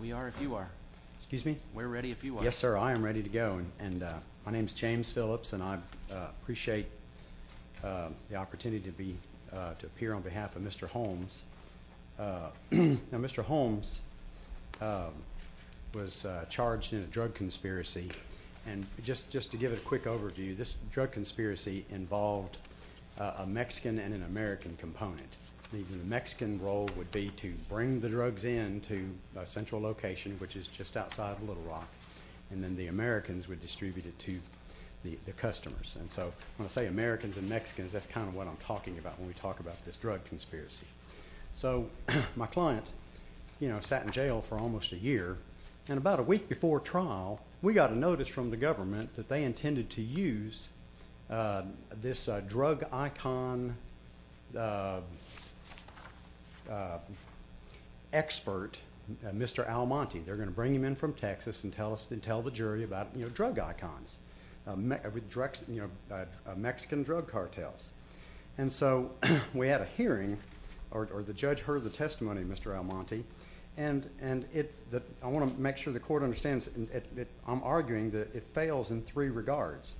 We are if you are. Excuse me? We're ready if you are. Yes, sir, I am ready to go and my name is James Phillips and I appreciate the opportunity to be to appear on behalf of Mr. Holmes. Now Mr. Holmes was charged in a drug conspiracy and just just to give it a quick overview this drug conspiracy involved a Mexican and an American component. The Mexican role would be to bring the drugs in to a central location which is just outside of Little Rock and then the Americans would distribute it to the customers and so when I say Americans and Mexicans that's kind of what I'm talking about when we talk about this drug conspiracy. So my client you know sat in jail for almost a year and about a week before trial we got a notice from the government that they intended to use this drug icon expert, Mr. Almonte. They're going to bring him in from Texas and tell us and tell the jury about you know drug icons with drugs you know Mexican drug cartels and so we had a hearing or the judge heard the testimony of Mr. Almonte and and it that I want to make sure the court understands it I'm regards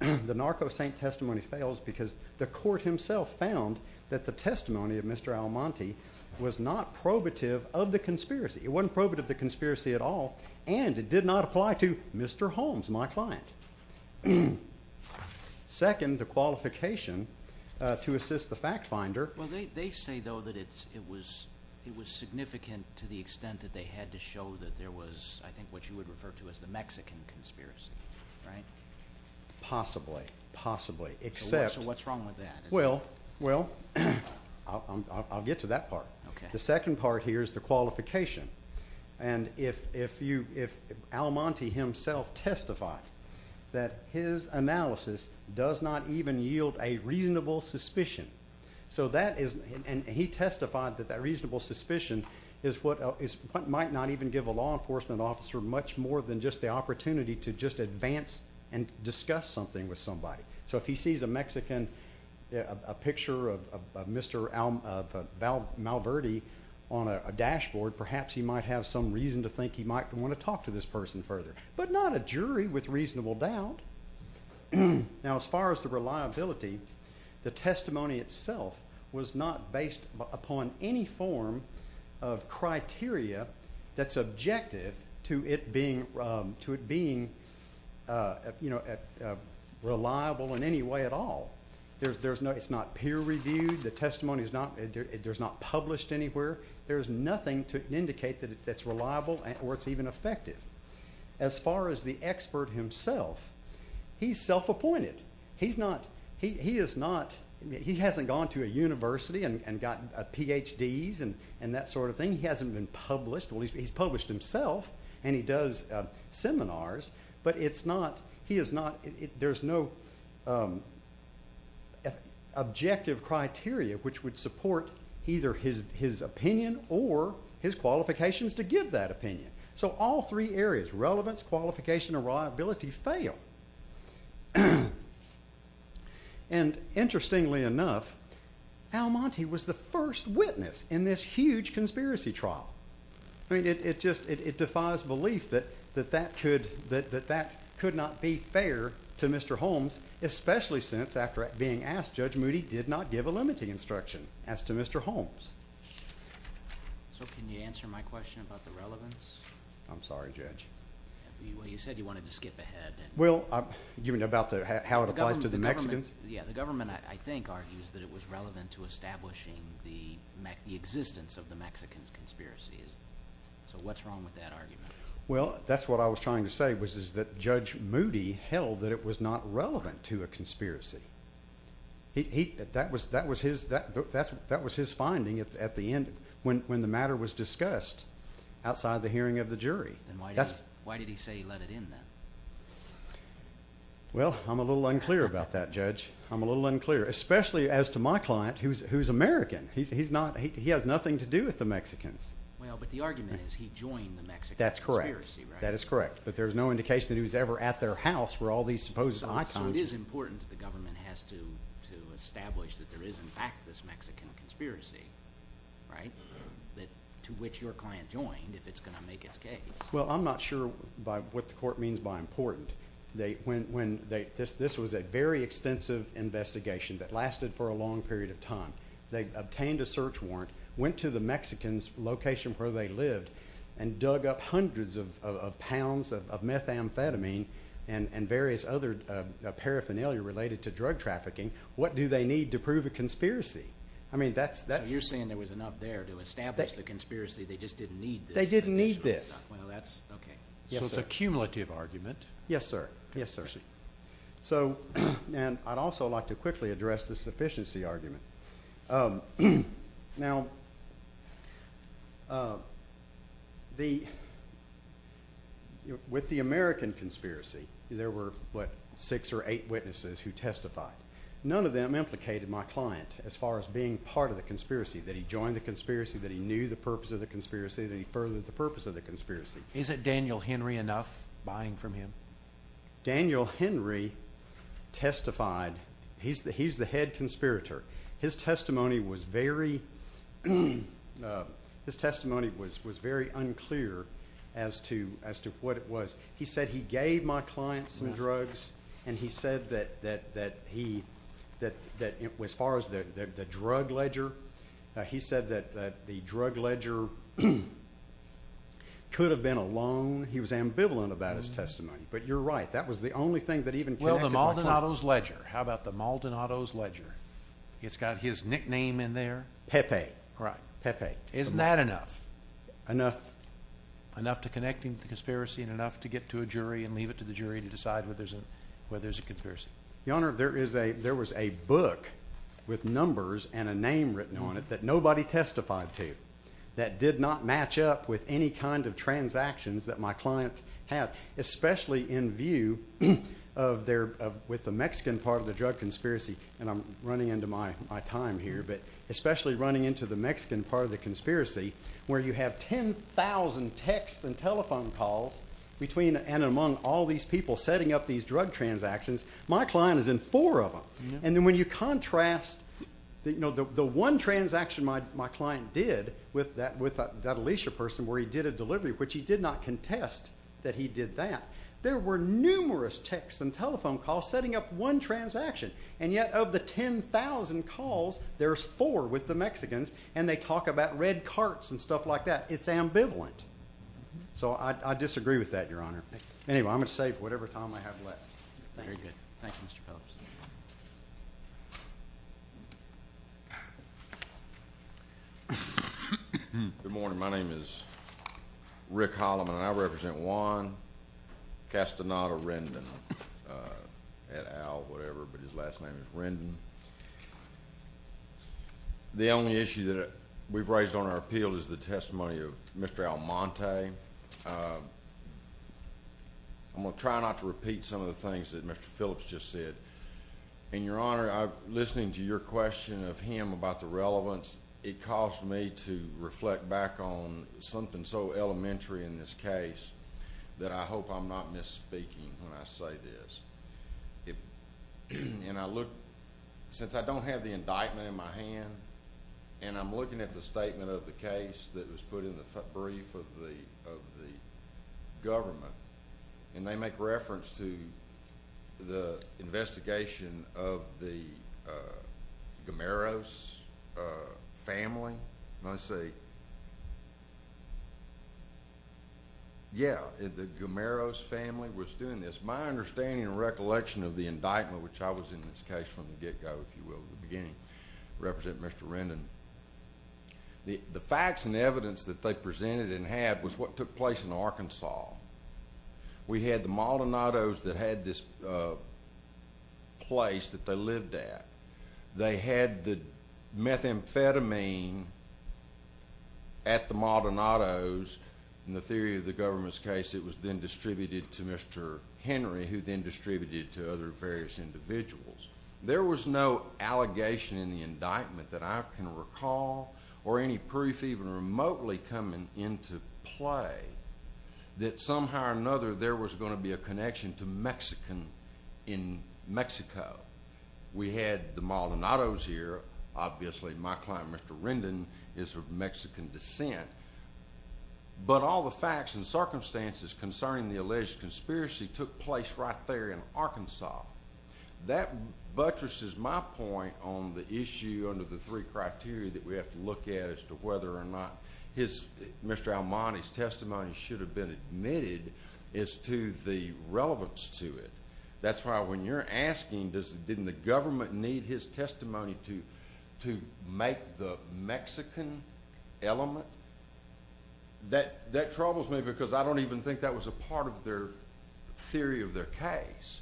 the narco saint testimony fails because the court himself found that the testimony of Mr. Almonte was not probative of the conspiracy. It wasn't probative of the conspiracy at all and it did not apply to Mr. Holmes my client. Second the qualification to assist the fact finder. Well they say though that it was it was significant to the extent that they had to show that there was I Possibly. Possibly. Except. So what's wrong with that? Well well I'll get to that part. The second part here is the qualification and if if you if Almonte himself testified that his analysis does not even yield a reasonable suspicion so that is and he testified that that reasonable suspicion is what is what might not even give a law enforcement officer much more than just the and discuss something with somebody. So if he sees a Mexican a picture of Mr. Malverde on a dashboard perhaps he might have some reason to think he might want to talk to this person further but not a jury with reasonable doubt. Now as far as the reliability the testimony itself was not based upon any form of criteria that's objective to it being to it being you know reliable in any way at all. There's there's no it's not peer-reviewed the testimony is not there's not published anywhere. There's nothing to indicate that it's reliable and or it's even effective. As far as the expert himself he's self-appointed. He's not he is not he hasn't gone to a university and gotten PhDs and and that he's published himself and he does seminars but it's not he is not there's no objective criteria which would support either his his opinion or his qualifications to give that opinion. So all three areas relevance, qualification, and reliability fail and interestingly enough Almonte was the first witness in this huge conspiracy trial. I mean it just it defies belief that that that could that that could not be fair to Mr. Holmes especially since after being asked Judge Moody did not give a limiting instruction as to Mr. Holmes. So can you answer my question about the relevance? I'm sorry judge. You said you wanted to skip ahead. Well you mean about how it applies to the Mexicans? Yeah the government I think argues that it was relevant to establishing the existence of the Mexicans conspiracy. So what's wrong with that argument? Well that's what I was trying to say was is that Judge Moody held that it was not relevant to a conspiracy. He that was that was his that that's what that was his finding at the end when when the matter was discussed outside the hearing of the jury. Why did he say he let it in then? Well I'm a little unclear about that judge. I'm a little unclear especially as to my client who's American. He's not he has nothing to do with the Mexicans. Well but the argument is he joined the Mexican. That's correct. That is correct. But there's no indication that he was ever at their house where all these supposed icons. So it is important that the government has to to establish that there is in fact this Mexican conspiracy right that to which your client joined if it's gonna make its case. Well I'm not sure by what the court means by important. They when when they this this was a very extensive investigation that lasted for a long period of time. They obtained a search warrant went to the Mexicans location where they lived and dug up hundreds of pounds of methamphetamine and and various other paraphernalia related to drug trafficking. What do they need to prove a conspiracy? I mean that's that you're saying there was enough there to establish the conspiracy they just didn't need. They didn't need this. Okay yes it's a cumulative argument. Yes sir yes sir. So and I'd also like to Now the with the American conspiracy there were what six or eight witnesses who testified. None of them implicated my client as far as being part of the conspiracy. That he joined the conspiracy. That he knew the purpose of the conspiracy. That he furthered the purpose of the conspiracy. Is it Daniel Henry enough buying from him? Daniel Henry testified. He's the he's the head conspirator. His testimony was very his testimony was was very unclear as to as to what it was. He said he gave my clients some drugs and he said that that that he that that it was far as the drug ledger. He said that the drug ledger could have been a loan. He was ambivalent about his testimony. But you're right that was the only thing that even. Well the Maldonado's ledger. How about the Maldonado's ledger? It's got his nickname in there. Pepe. Right Pepe. Isn't that enough? Enough. Enough to connect him to the conspiracy and enough to get to a jury and leave it to the jury to decide whether there's a whether there's a conspiracy. Your honor there is a there was a book with numbers and a name written on it that nobody testified to. That did not match up with any kind of transactions that my client had. Especially in view of their with the conspiracy and I'm running into my time here but especially running into the Mexican part of the conspiracy where you have 10,000 texts and telephone calls between and among all these people setting up these drug transactions. My client is in four of them and then when you contrast that you know the one transaction my client did with that with that Alicia person where he did a delivery which he did not contest that he did that. There were numerous texts and telephone calls setting up one transaction and yet of the 10,000 calls there's four with the Mexicans and they talk about red carts and stuff like that. It's ambivalent. So I disagree with that your honor. Anyway I'm gonna save whatever time I have left. Good morning my name is Rick Holloman. I represent Juan Castaneda Rendon. At Al whatever but his last name is Rendon. The only issue that we've raised on our appeal is the testimony of Mr. Almonte. I'm gonna try not to repeat some of the things that Mr. Phillips just said. And your honor I'm listening to your question of him about the relevance. It caused me to reflect back on something so elementary in this case that I hope I'm not misspeaking when I say this. If and I look since I don't have the indictment in my hand and I'm looking at the statement of the case that was put in the brief of the government and they make reference to the investigation of the Gamaros family. I say yeah the Gamaros family was doing this. My understanding and recollection of the indictment which I was in this case from the get-go if you will the beginning represent Mr. Rendon. The facts and evidence that they presented and had was what took place in Arkansas. We had the Maldonados that had this place that they lived at. They had the methamphetamine at the Maldonados. In the theory of the government's case it was then distributed to Mr. Henry who then distributed to other various individuals. There was no allegation in the indictment that I can recall or any proof even remotely coming into play that somehow or another there was going to be a connection to Mexican in Mexico. We had the Maldonados here. Obviously my client Mr. Rendon is of Mexican descent but all the facts and circumstances concerning the alleged conspiracy took place right there in Arkansas. That buttresses my point on the issue under the three criteria that we have to look at as to whether or not Mr. Almonte's been admitted is to the relevance to it. That's why when you're asking didn't the government need his testimony to make the Mexican element? That troubles me because I don't even think that was a part of their theory of their case.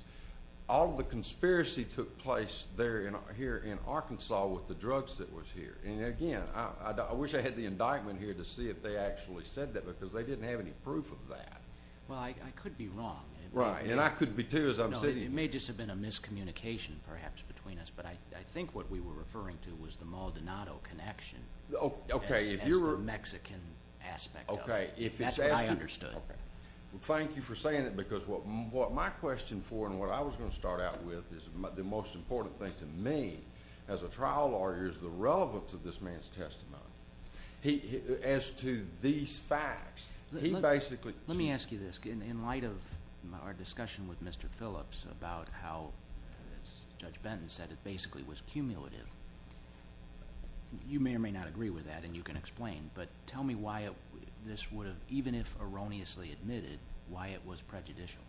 All the conspiracy took place there and here in Arkansas with the drugs that was here. Again I wish I had the indictment here to see if they actually said that because they didn't have any proof of that. Well I could be wrong. Right and I could be too as I'm saying. It may just have been a miscommunication perhaps between us but I think what we were referring to was the Maldonado connection. Okay. The Mexican aspect. Okay. That's what I understood. Thank you for saying it because what my question for and what I was gonna start out with is the most important thing to me as a trial lawyer is the relevance of this man's testimony. As to these facts. He basically. Let me ask you this in light of our discussion with Mr. Phillips about how Judge Benton said it basically was cumulative. You may or may not agree with that and you can explain but tell me why this would have even if erroneously admitted why it was prejudicial.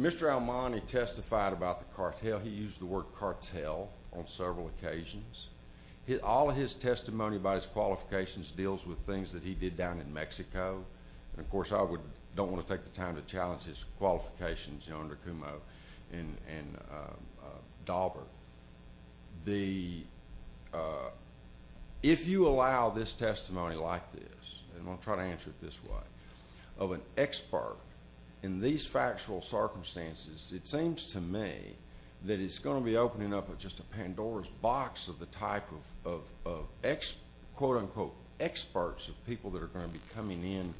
Mr. Almonte testified about the cartel. He used the word cartel on his testimony about his qualifications deals with things that he did down in Mexico and of course I would don't want to take the time to challenge his qualifications under Kumo and Dauber. If you allow this testimony like this and I'll try to answer it this way of an expert in these factual circumstances it seems to me that it's going to be opening up with just a Pandora's box of the type of experts of people that are going to be coming in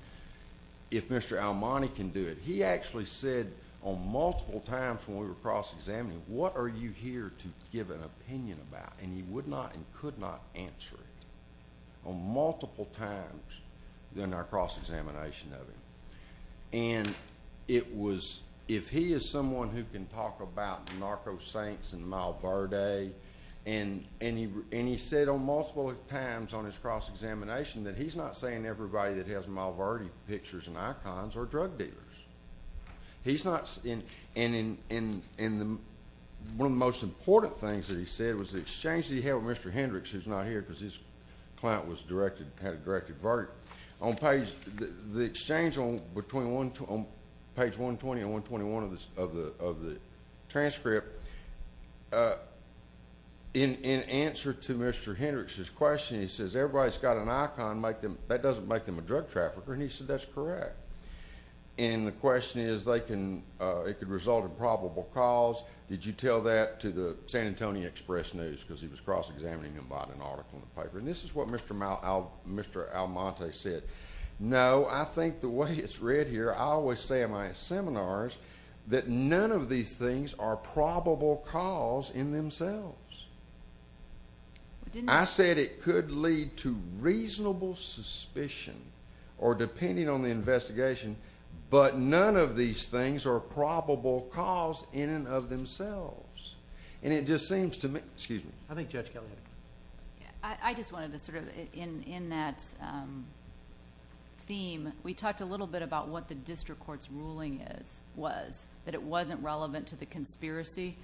if Mr. Almonte can do it. He actually said on multiple times when we were cross-examining what are you here to give an opinion about and he would not and could not answer it on multiple times during our cross-examination of him. If he is someone who can talk about narco-saints and Malverde and he said on multiple times on his cross-examination that he's not saying everybody that has Malverde pictures and icons are drug dealers. He's not and one of the most important things that he said was the exchange that he had with Mr. Hendricks who's not here because his client had a directed verdict on page the exchange between page 120 and 121 of the transcript. In answer to Mr. Hendricks' question he says everybody's got an icon that doesn't make them a drug trafficker and he said that's correct and the question is it could result in probable cause. Did you tell that to the San Antonio Express News because he was cross-examining him about an article in the paper and this is what Mr. Almonte said. No, I think the way it's read here, I always say in my seminars that none of these things are probable cause in themselves. I said it could lead to reasonable suspicion or depending on the investigation but none of these things are probable cause in and of themselves and it just seems to... Excuse me. I think Judge Kelly. I just wanted to sort of in that theme, we talked a little bit about what the district court's ruling was, that it wasn't relevant to the conspiracy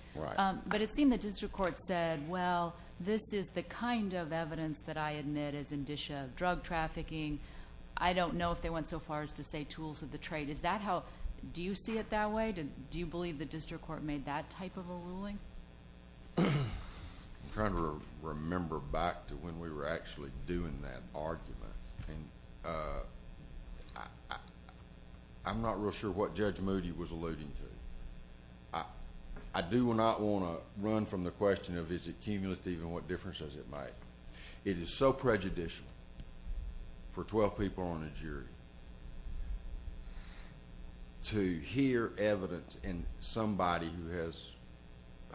but it seemed the district court said, well, this is the kind of evidence that I admit is indicia of drug trafficking. I don't know if they went so far as to say tools of the trade. Do you see it that way? Do you believe the... I'm trying to remember back to when we were actually doing that argument. I'm not real sure what Judge Moody was alluding to. I do not want to run from the question of is it cumulative and what difference does it make. It is so prejudicial for twelve people on a jury to hear evidence in somebody who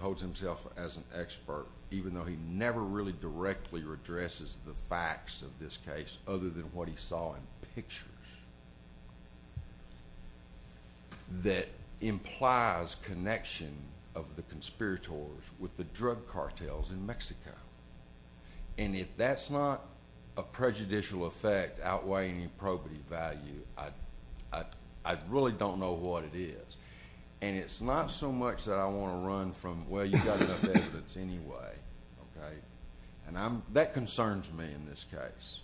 holds himself as an expert even though he never really directly addresses the facts of this case other than what he saw in pictures that implies connection of the conspirators with the drug cartels in Mexico. If that's not a prejudicial effect outweighing the probity value, I really don't know what it is. It's not so much that I want to run from, well, you got enough evidence anyway. That concerns me in this case.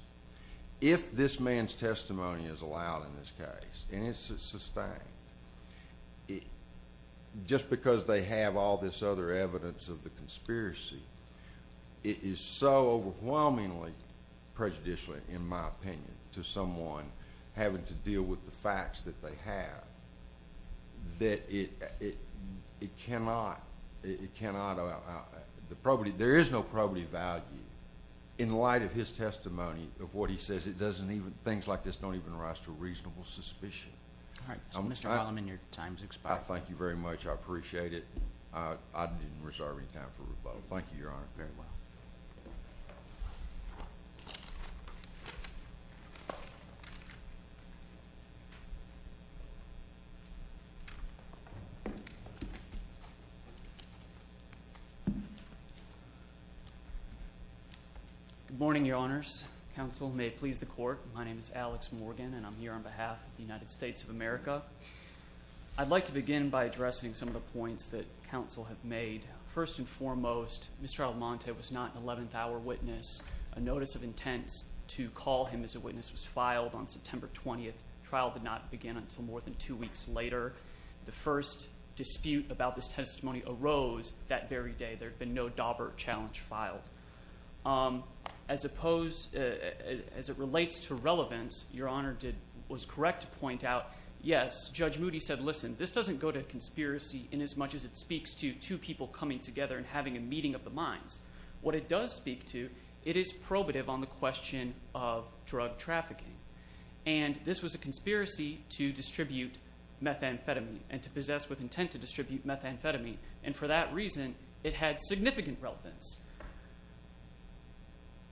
If this man's testimony is allowed in this case and it's sustained, just because they have all this other evidence of the conspiracy, it is so overwhelmingly prejudicial in my opinion to someone having to deal with the facts that they have that it cannot... there is no probity value in light of his testimony of what he says. Things like this don't even rise to a reasonable suspicion. All right. Mr. Wallerman, your time has expired. Thank you very much. I appreciate it. I didn't reserve any time for rebuttal. Thank you, Your Honor. Very well. Good morning, Your Honors. Counsel, may it please the Court, my name is Alex Morgan and I'm here on behalf of the United States of America. I'd like to begin by addressing some of the points that counsel have made. First and foremost, this is not an 11th hour witness. A notice of intent to call him as a witness was filed on September 20th. The trial did not begin until more than two weeks later. The first dispute about this testimony arose that very day. There had been no Daubert challenge filed. As it relates to relevance, Your Honor was correct to point out, yes, Judge Moody said, listen, this doesn't go to conspiracy inasmuch as it speaks to two people coming together and having a meeting of the minds. What it does speak to, it is probative on the question of drug trafficking. This was a conspiracy to distribute methamphetamine and to possess with intent to distribute methamphetamine. For that reason, it had significant relevance.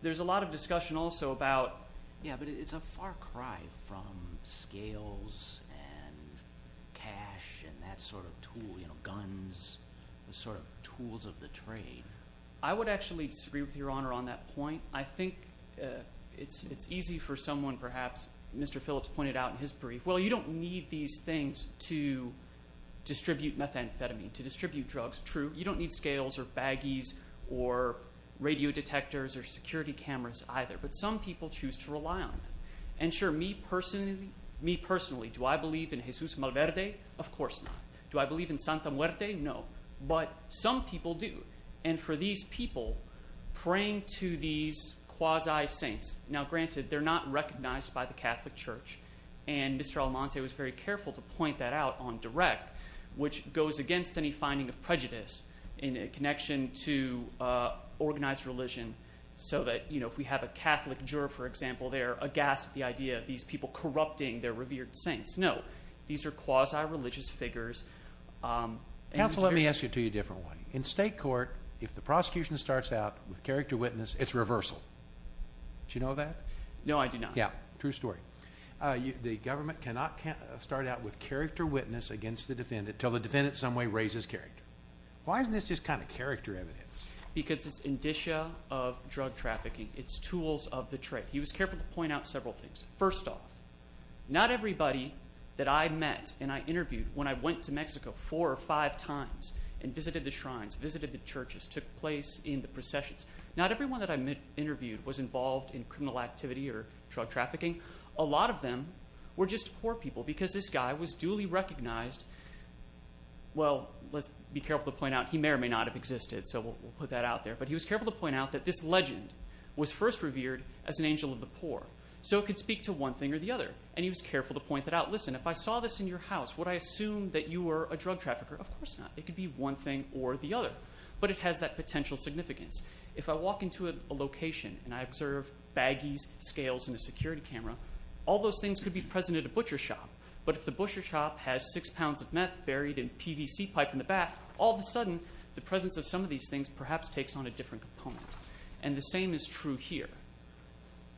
There's a lot of discussion also about, yeah, but it's a far cry from scales and cash and that sort of tool, you know, guns, the sort of tools of the trade. I would actually disagree with Your Honor on that point. I think it's easy for someone perhaps, Mr. Phillips pointed out in his brief, well, you don't need these things to distribute methamphetamine, to distribute drugs. True, you don't need scales or baggies or radio detectors or security cameras either, but some people choose to rely on them. And sure, me personally, do I believe in Jesus Malverde? Of course not. Do I believe in Santa Muerte? No. But some people do. And for these people, praying to these quasi-saints, now granted, they're not recognized by the Catholic Church, and Mr. Almonte was very careful to point that out on direct, which goes against any finding of prejudice in a connection to organized religion, so that, you know, if we have a Catholic juror, for example, they're aghast at the idea of these people corrupting their revered saints. No, these are quasi-religious figures. Counsel, let me ask you a different one. In state court, if the prosecution starts out with character witness, it's reversal. Did you know that? No, I do not. Yeah, true story. The government cannot start out with character witness against the defendant until the defendant in some way raises character. Why isn't this just kind of character evidence? Because it's indicia of drug trafficking. It's tools of the trade. He was careful to point out several things. First off, not everybody that I met and I interviewed when I went to Mexico four or five times and visited the shrines, visited the churches, took place in the processions, not everyone that I met, interviewed, was involved in criminal activity or drug trafficking. A lot of them were just poor people because this guy was duly recognized. Well, let's be careful to point out, he may or may not have existed, so we'll put that out there, but he was careful to point out that this legend was first revered as an angel of the poor, so it could speak to one thing or the other, and he was careful to point that out. Listen, if I saw this in your house, would I assume that you were a drug trafficker? Of course not. It could be one thing or the other, but it has that potential significance. If I walk into a location and I observe baggies, scales, and a security camera, all those things could be present at a butcher shop, but if the butcher shop has six pounds of meth buried in PVC pipe in the bath, all of a sudden the presence of some of these things perhaps takes on a different component, and the same is true here,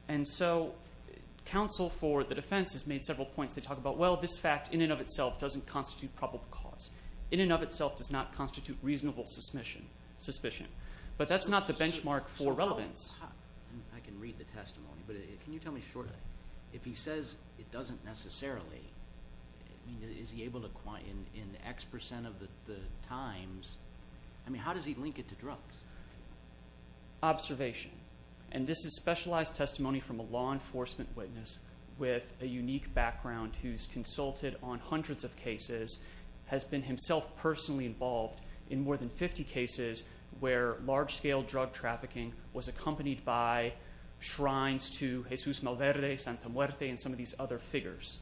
and so counsel for the defense has made several points. They talk about, well, this fact in and of itself doesn't constitute probable cause. In and of itself does not constitute reasonable suspicion, but that's not the benchmark for relevance. I can read the testimony, but can you tell me shortly, if he says it doesn't necessarily, is he able to, in X percent of the times, I mean, how does he link it to drugs? Observation, and this is specialized testimony from a law enforcement witness with a unique background who's consulted on hundreds of cases, has been himself personally involved in more than 50 cases where large-scale drug trafficking was accompanied by shrines to Jesus Malverde, Santa Muerte, and some of these other figures,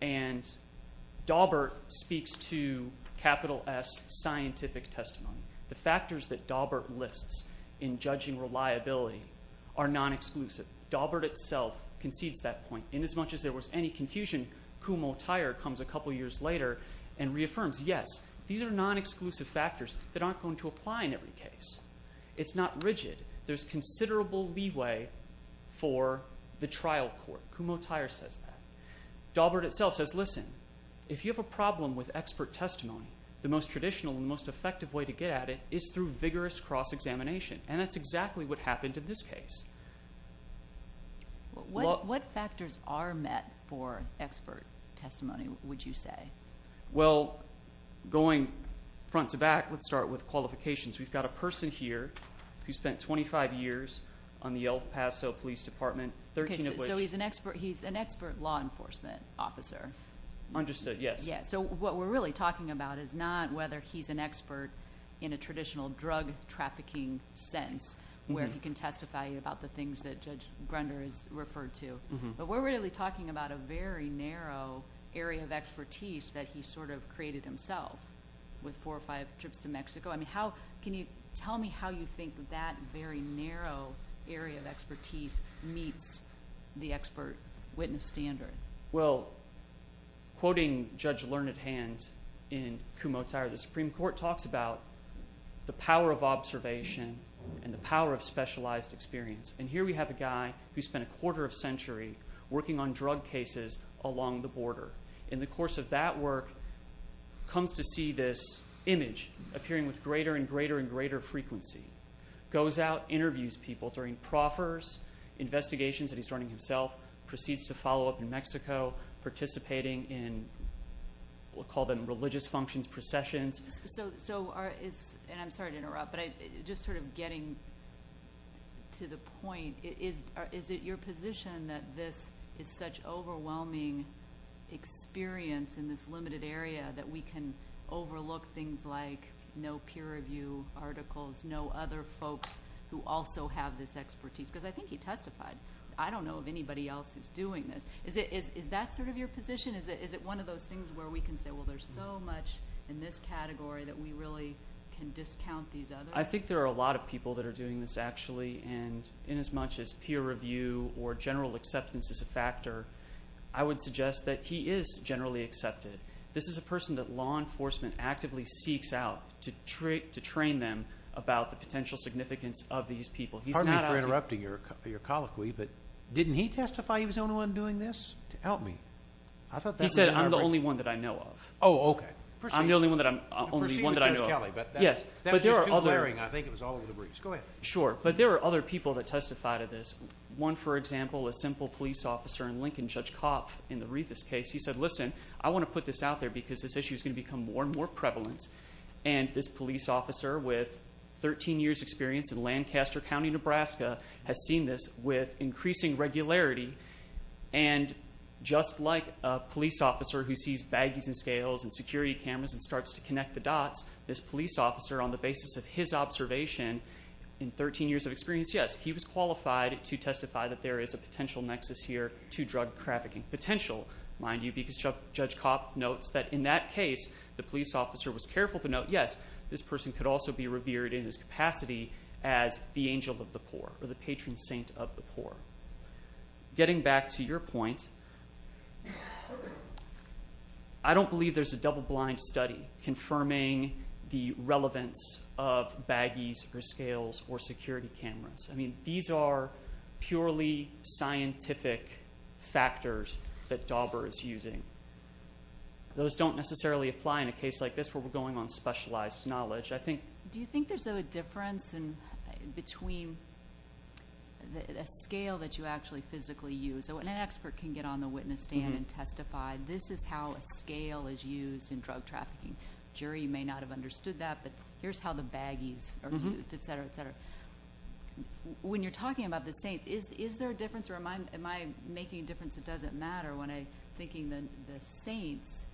and Daubert speaks to capital S scientific testimony. The factors that Daubert lists in judging reliability are non-exclusive. Daubert itself concedes that point. In as much as there was any confusion, Kumho-Tyre comes a couple years later and reaffirms, yes, these are non-exclusive factors that aren't going to apply in every case. It's not rigid. There's considerable leeway for the trial court. Kumho-Tyre says that. Daubert itself says, listen, if you have a problem with expert testimony, the most traditional and most effective way to get at it is through vigorous cross examination, and that's exactly what happened in this case. What factors are met for expert testimony, would you say? Well, going front to back, let's start with qualifications. We've got a person here who spent 25 years on the El Paso Police Department, 13 of which- He's an expert law enforcement officer. Understood, yes. Yes. What we're really talking about is not whether he's an expert in a traditional drug trafficking sense where he can testify about the things that Judge Grunder has referred to, but we're really talking about a very narrow area of expertise that he created himself with four or five trips to Mexico. Can you give us a sense of the expert witness standard? Well, quoting Judge Learned Hand in Kumho-Tyre, the Supreme Court talks about the power of observation and the power of specialized experience. Here we have a guy who spent a quarter of a century working on drug cases along the border. In the course of that work, comes to see this image appearing with greater and greater and greater frequency. Goes out, interviews people during proffers, investigations that he's running himself, proceeds to follow up in Mexico, participating in, we'll call them religious functions, processions. I'm sorry to interrupt, but just sort of getting to the point, is it your position that this is such overwhelming experience in this limited area that we can overlook things like no peer review articles, no other folks who also have this expertise? Because I think he testified. I don't know of anybody else who's doing this. Is that sort of your position? Is it one of those things where we can say, well, there's so much in this category that we really can discount these others? I think there are a lot of people that are doing this actually, and in as much as peer review or general acceptance is a factor, I would suggest that he is generally accepted. This is a person that law enforcement actively seeks out to train them about the potential significance of these people. Pardon me for interrupting your colloquy, but didn't he testify he was the only one doing this? To help me. I thought that was an overstatement. He said, I'm the only one that I know of. Oh, okay. I'm the only one that I know of. Proceed with Judge Kelly. Yes. That was just too glaring. I think it was all in the briefs. Go ahead. Sure. But there are other people that testify to this. One, for example, a simple police officer in Lincoln, Judge Kopf, in the Rivas case, he said, listen, I want to put this out there because this issue is going to become more and more prevalent. And this police officer with 13 years experience in Lancaster County, Nebraska, has seen this with increasing regularity. And just like a police officer who sees baggies and scales and security cameras and starts to connect the dots, this police officer, on the basis of his observation, in 13 years of experience, yes, he was qualified to testify that there is a potential nexus here to drug trafficking. Potential, mind you, because Judge Kopf notes that in that case, the police officer was careful to note, yes, this person could also be revered in his capacity as the angel of the poor or the patron saint of the poor. Getting back to your point, I don't believe there's a double-blind study confirming the relevance of baggies or scales or security cameras. I mean, these are purely scientific factors that Dauber is using. Those don't necessarily apply in a case like this where we're going on specialized knowledge. I think... Do you think there's a difference between a scale that you actually physically use? An expert can get on the witness stand and testify, this is how a scale is used in drug trafficking. The jury may not have understood that, but here's how the baggies are used, et cetera, et cetera. When you're talking about the saints, is there a difference or am I making a difference that doesn't matter when I'm thinking the saints,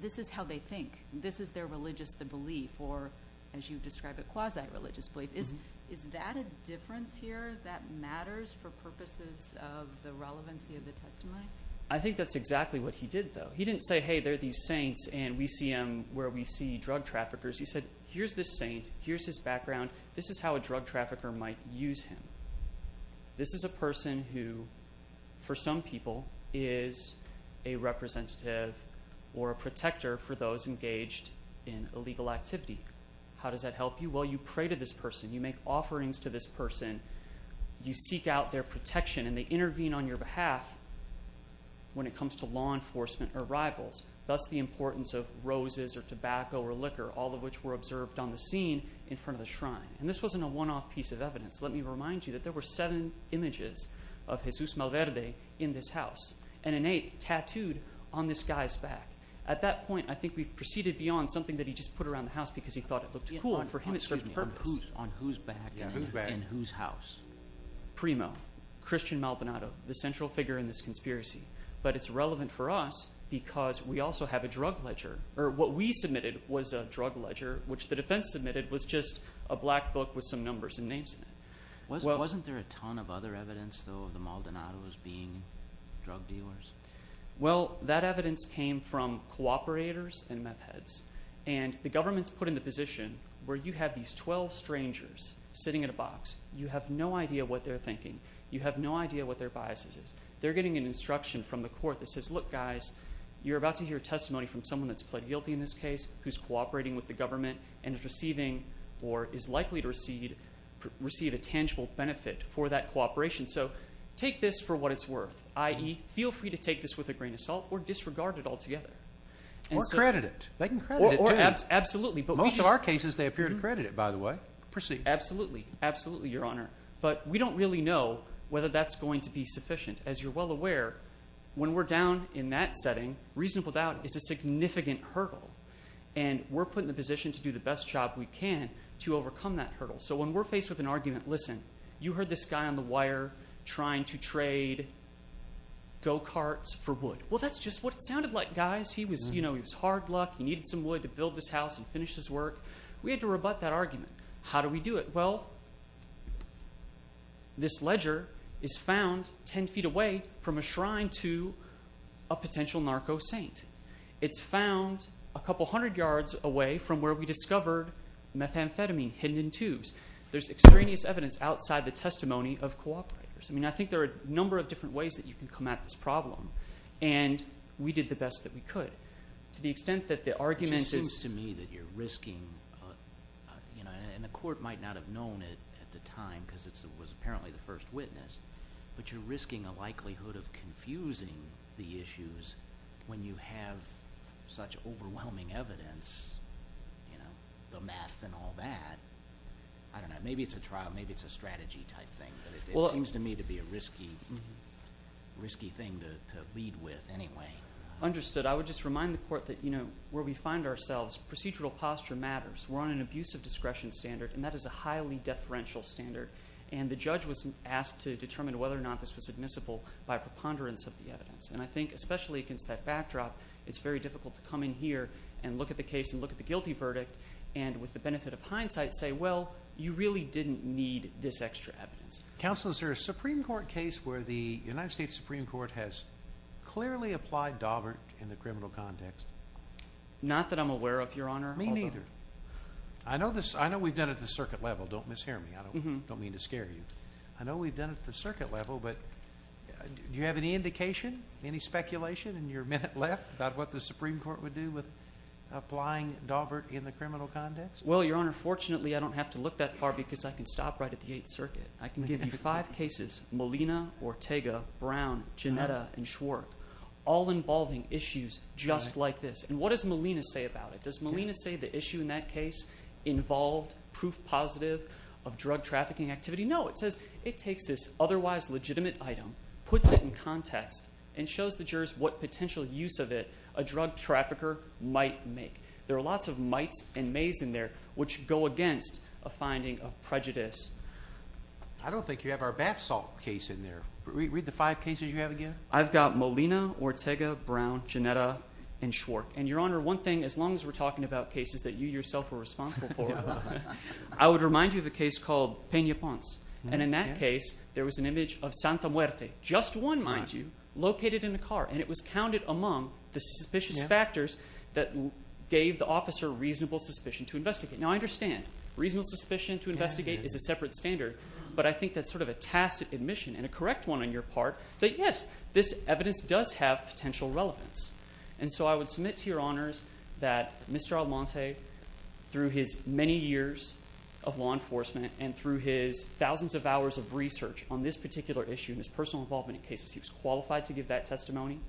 this is how they think. This is their religious belief or, as you describe it, quasi-religious belief. Is that a difference here that matters for purposes of the relevancy of the testimony? I think that's exactly what he did, though. He didn't say, hey, they're these saints and we see them where we see drug traffickers. He said, here's this saint, here's his background, this is how a drug trafficker might use him. This is a person who, for some people, is a representative or a protector for those engaged in illegal activity. How does that help you? Well, you pray to this person, you make offerings to this person, you seek out their protection, and they intervene on your behalf when it comes to law enforcement. That's the importance of roses or tobacco or liquor, all of which were observed on the scene in front of the shrine. This wasn't a one-off piece of evidence. Let me remind you that there were seven images of Jesus Malverde in this house, and an eighth tattooed on this guy's back. At that point, I think we've proceeded beyond something that he just put around the house because he thought it looked cool. For him, it served purpose. On whose back? On whose back? In whose house? Primo, Christian Maldonado, the central figure in this conspiracy. But it's relevant for us because we also have a drug ledger. What we submitted was a drug ledger, which the defense submitted was just a black book with some numbers and names in it. Wasn't there a ton of other evidence, though, of the Maldonados being drug dealers? Well, that evidence came from cooperators and meth heads. The government's put in the position where you have these 12 strangers sitting in a box. You have no idea what they're thinking. You have no idea what their biases is. They're getting an instruction from the court that says, look, guys, you're about to hear testimony from someone that's pled guilty in this case, who's cooperating with the government, and is receiving or is likely to receive a tangible benefit for that cooperation. So take this for what it's worth, i.e., feel free to take this with a grain of salt or disregard it altogether. Or credit it. They can credit it, too. Absolutely. Most of our cases, they appear to credit it, by the way. Proceed. Absolutely, Your Honor. But we don't really know whether that's going to be a reasonable doubt. As you're well aware, when we're down in that setting, reasonable doubt is a significant hurdle. And we're put in the position to do the best job we can to overcome that hurdle. So when we're faced with an argument, listen, you heard this guy on the wire trying to trade go-carts for wood. Well, that's just what it sounded like, guys. He was hard luck. He needed some wood to build this house and finish his work. We had to rebut that argument. How do we do it? Well, this ledger is found 10 feet away from a shrine to a potential narco saint. It's found a couple hundred yards away from where we discovered methamphetamine, hidden in tubes. There's extraneous evidence outside the testimony of cooperators. I mean, I think there are a number of different ways that you can come at this problem. And we did the best that we could. To the extent that the argument is to me that you're risking, and the court might not have known it at the time because it was apparently the first witness, but you're risking a likelihood of confusing the issues when you have such overwhelming evidence, the math and all that. I don't know. Maybe it's a trial. Maybe it's a strategy type thing. But it seems to me to be a risky thing to lead with anyway. Understood. I would just remind the court that where we find ourselves, procedural posture matters. We're on an abuse of discretion standard, and that is a highly deferential standard. And the judge was asked to determine whether or not this was admissible by preponderance of the evidence. And I think especially against that backdrop, it's very difficult to come in here and look at the case and look at the guilty verdict, and with the benefit of hindsight say, well, you really didn't need this extra evidence. Counsel, is there a Supreme Court case where the United States Supreme Court has clearly applied Dover in the criminal context? Not that I'm aware of, Your Honor. Me neither. I know we've done it at the circuit level. Don't mishear me. I don't mean to scare you. I know we've done it at the circuit level, but do you have any indication, any speculation in your minute left about what the Supreme Court would do with applying Dover in the criminal context? Well, Your Honor, fortunately, I don't have to look that far because I can stop right at the Eighth Circuit. I can give you five cases, Molina, Ortega, Brown, Ginetta, and Schwartz, all involving issues just like this. And what does Molina say about it? Does Molina say the issue in that case involved proof positive of drug trafficking activity? No. It says it takes this otherwise legitimate item, puts it in context, and shows the jurors what potential use of it a drug trafficker might make. There are lots of mites and maize in there which go against a finding of prejudice. I don't think you have our bath salt case in there. Read the five cases you have again. I've got Molina, Ortega, Brown, Ginetta, and Schwartz. And, Your Honor, one thing, as long as we're talking about cases that you yourself are responsible for, I would remind you of a case called Peña Ponce. And in that case, there was an image of Santa Muerte, just one, mind you, located in a car. And it was counted among the suspicious factors that gave the officer reasonable suspicion to investigate. Now, I understand reasonable suspicion to investigate is a separate standard, but I think that's sort of a tacit admission, and a correct one on your part, that yes, this evidence does have potential relevance. And so I would submit to Your Honors that Mr. Almonte, through his many years of law enforcement, and through his thousands of hours of research on this particular issue, and his personal involvement in cases, he was qualified to give that testimony.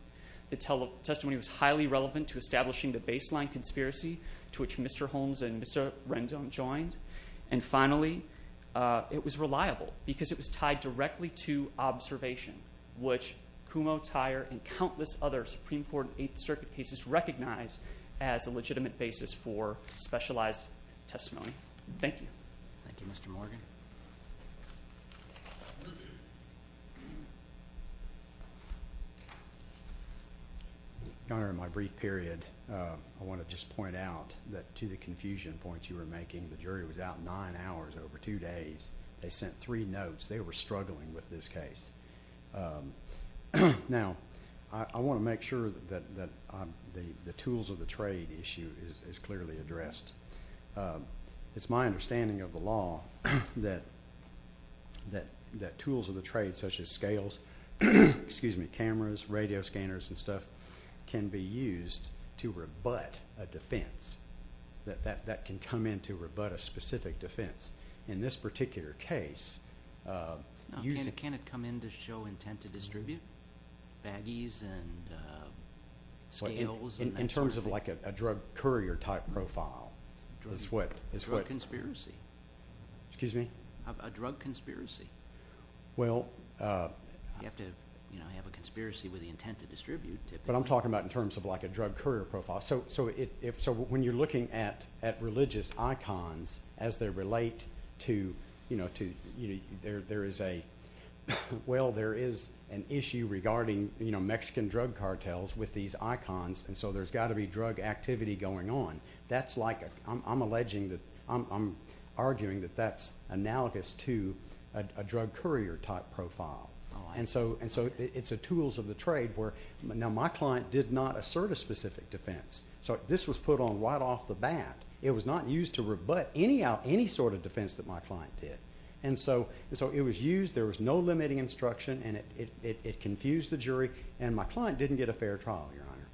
The testimony was highly relevant to establishing the baseline conspiracy to which Mr. Holmes and Mr. Rendon joined. And finally, it was reliable, because it was tied directly to observation, which Kumho, Tyer, and countless other Supreme Court and Eighth Circuit cases recognize as a legitimate basis for specialized testimony. Thank you. Thank you, Mr. Morgan. Your Honor, in my brief period, I wanna just point out that, to the confusion points you were making, the jury was out nine hours over two days. They sent three notes. They were struggling with this case. Now, I wanna make sure that the tools of the trade issue is clearly addressed. It's my understanding of the law that tools of the trade, such as scales, cameras, radio scanners, and stuff, can be used to rebut a defense, that can come in to rebut a specific defense. In this particular case... Can it come in to show intent to distribute? Baggies, and scales, and that sort of thing. In terms of a drug courier type profile, is what... Drug conspiracy. Excuse me? A drug conspiracy. Well... You have to have a conspiracy with the intent to distribute typically. But I'm talking about in terms of a drug courier profile. When you're looking at religious icons, as they relate to... There is a... Well, there is an issue regarding Mexican drug cartels with these icons, and so there's gotta be drug activity going on. That's like... I'm alleging that... I'm arguing that that's analogous to a drug courier type profile. And so, it's a tools of the trade where... Now, my client did not assert a specific defense, so this was put on right off the bat. It was not used to rebut any sort of defense that my client did. And so, it was used, there was no limiting instruction, and it confused the jury, and my client didn't get a fair trial, Your Honor.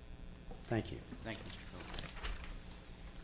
Thank you. Thank you.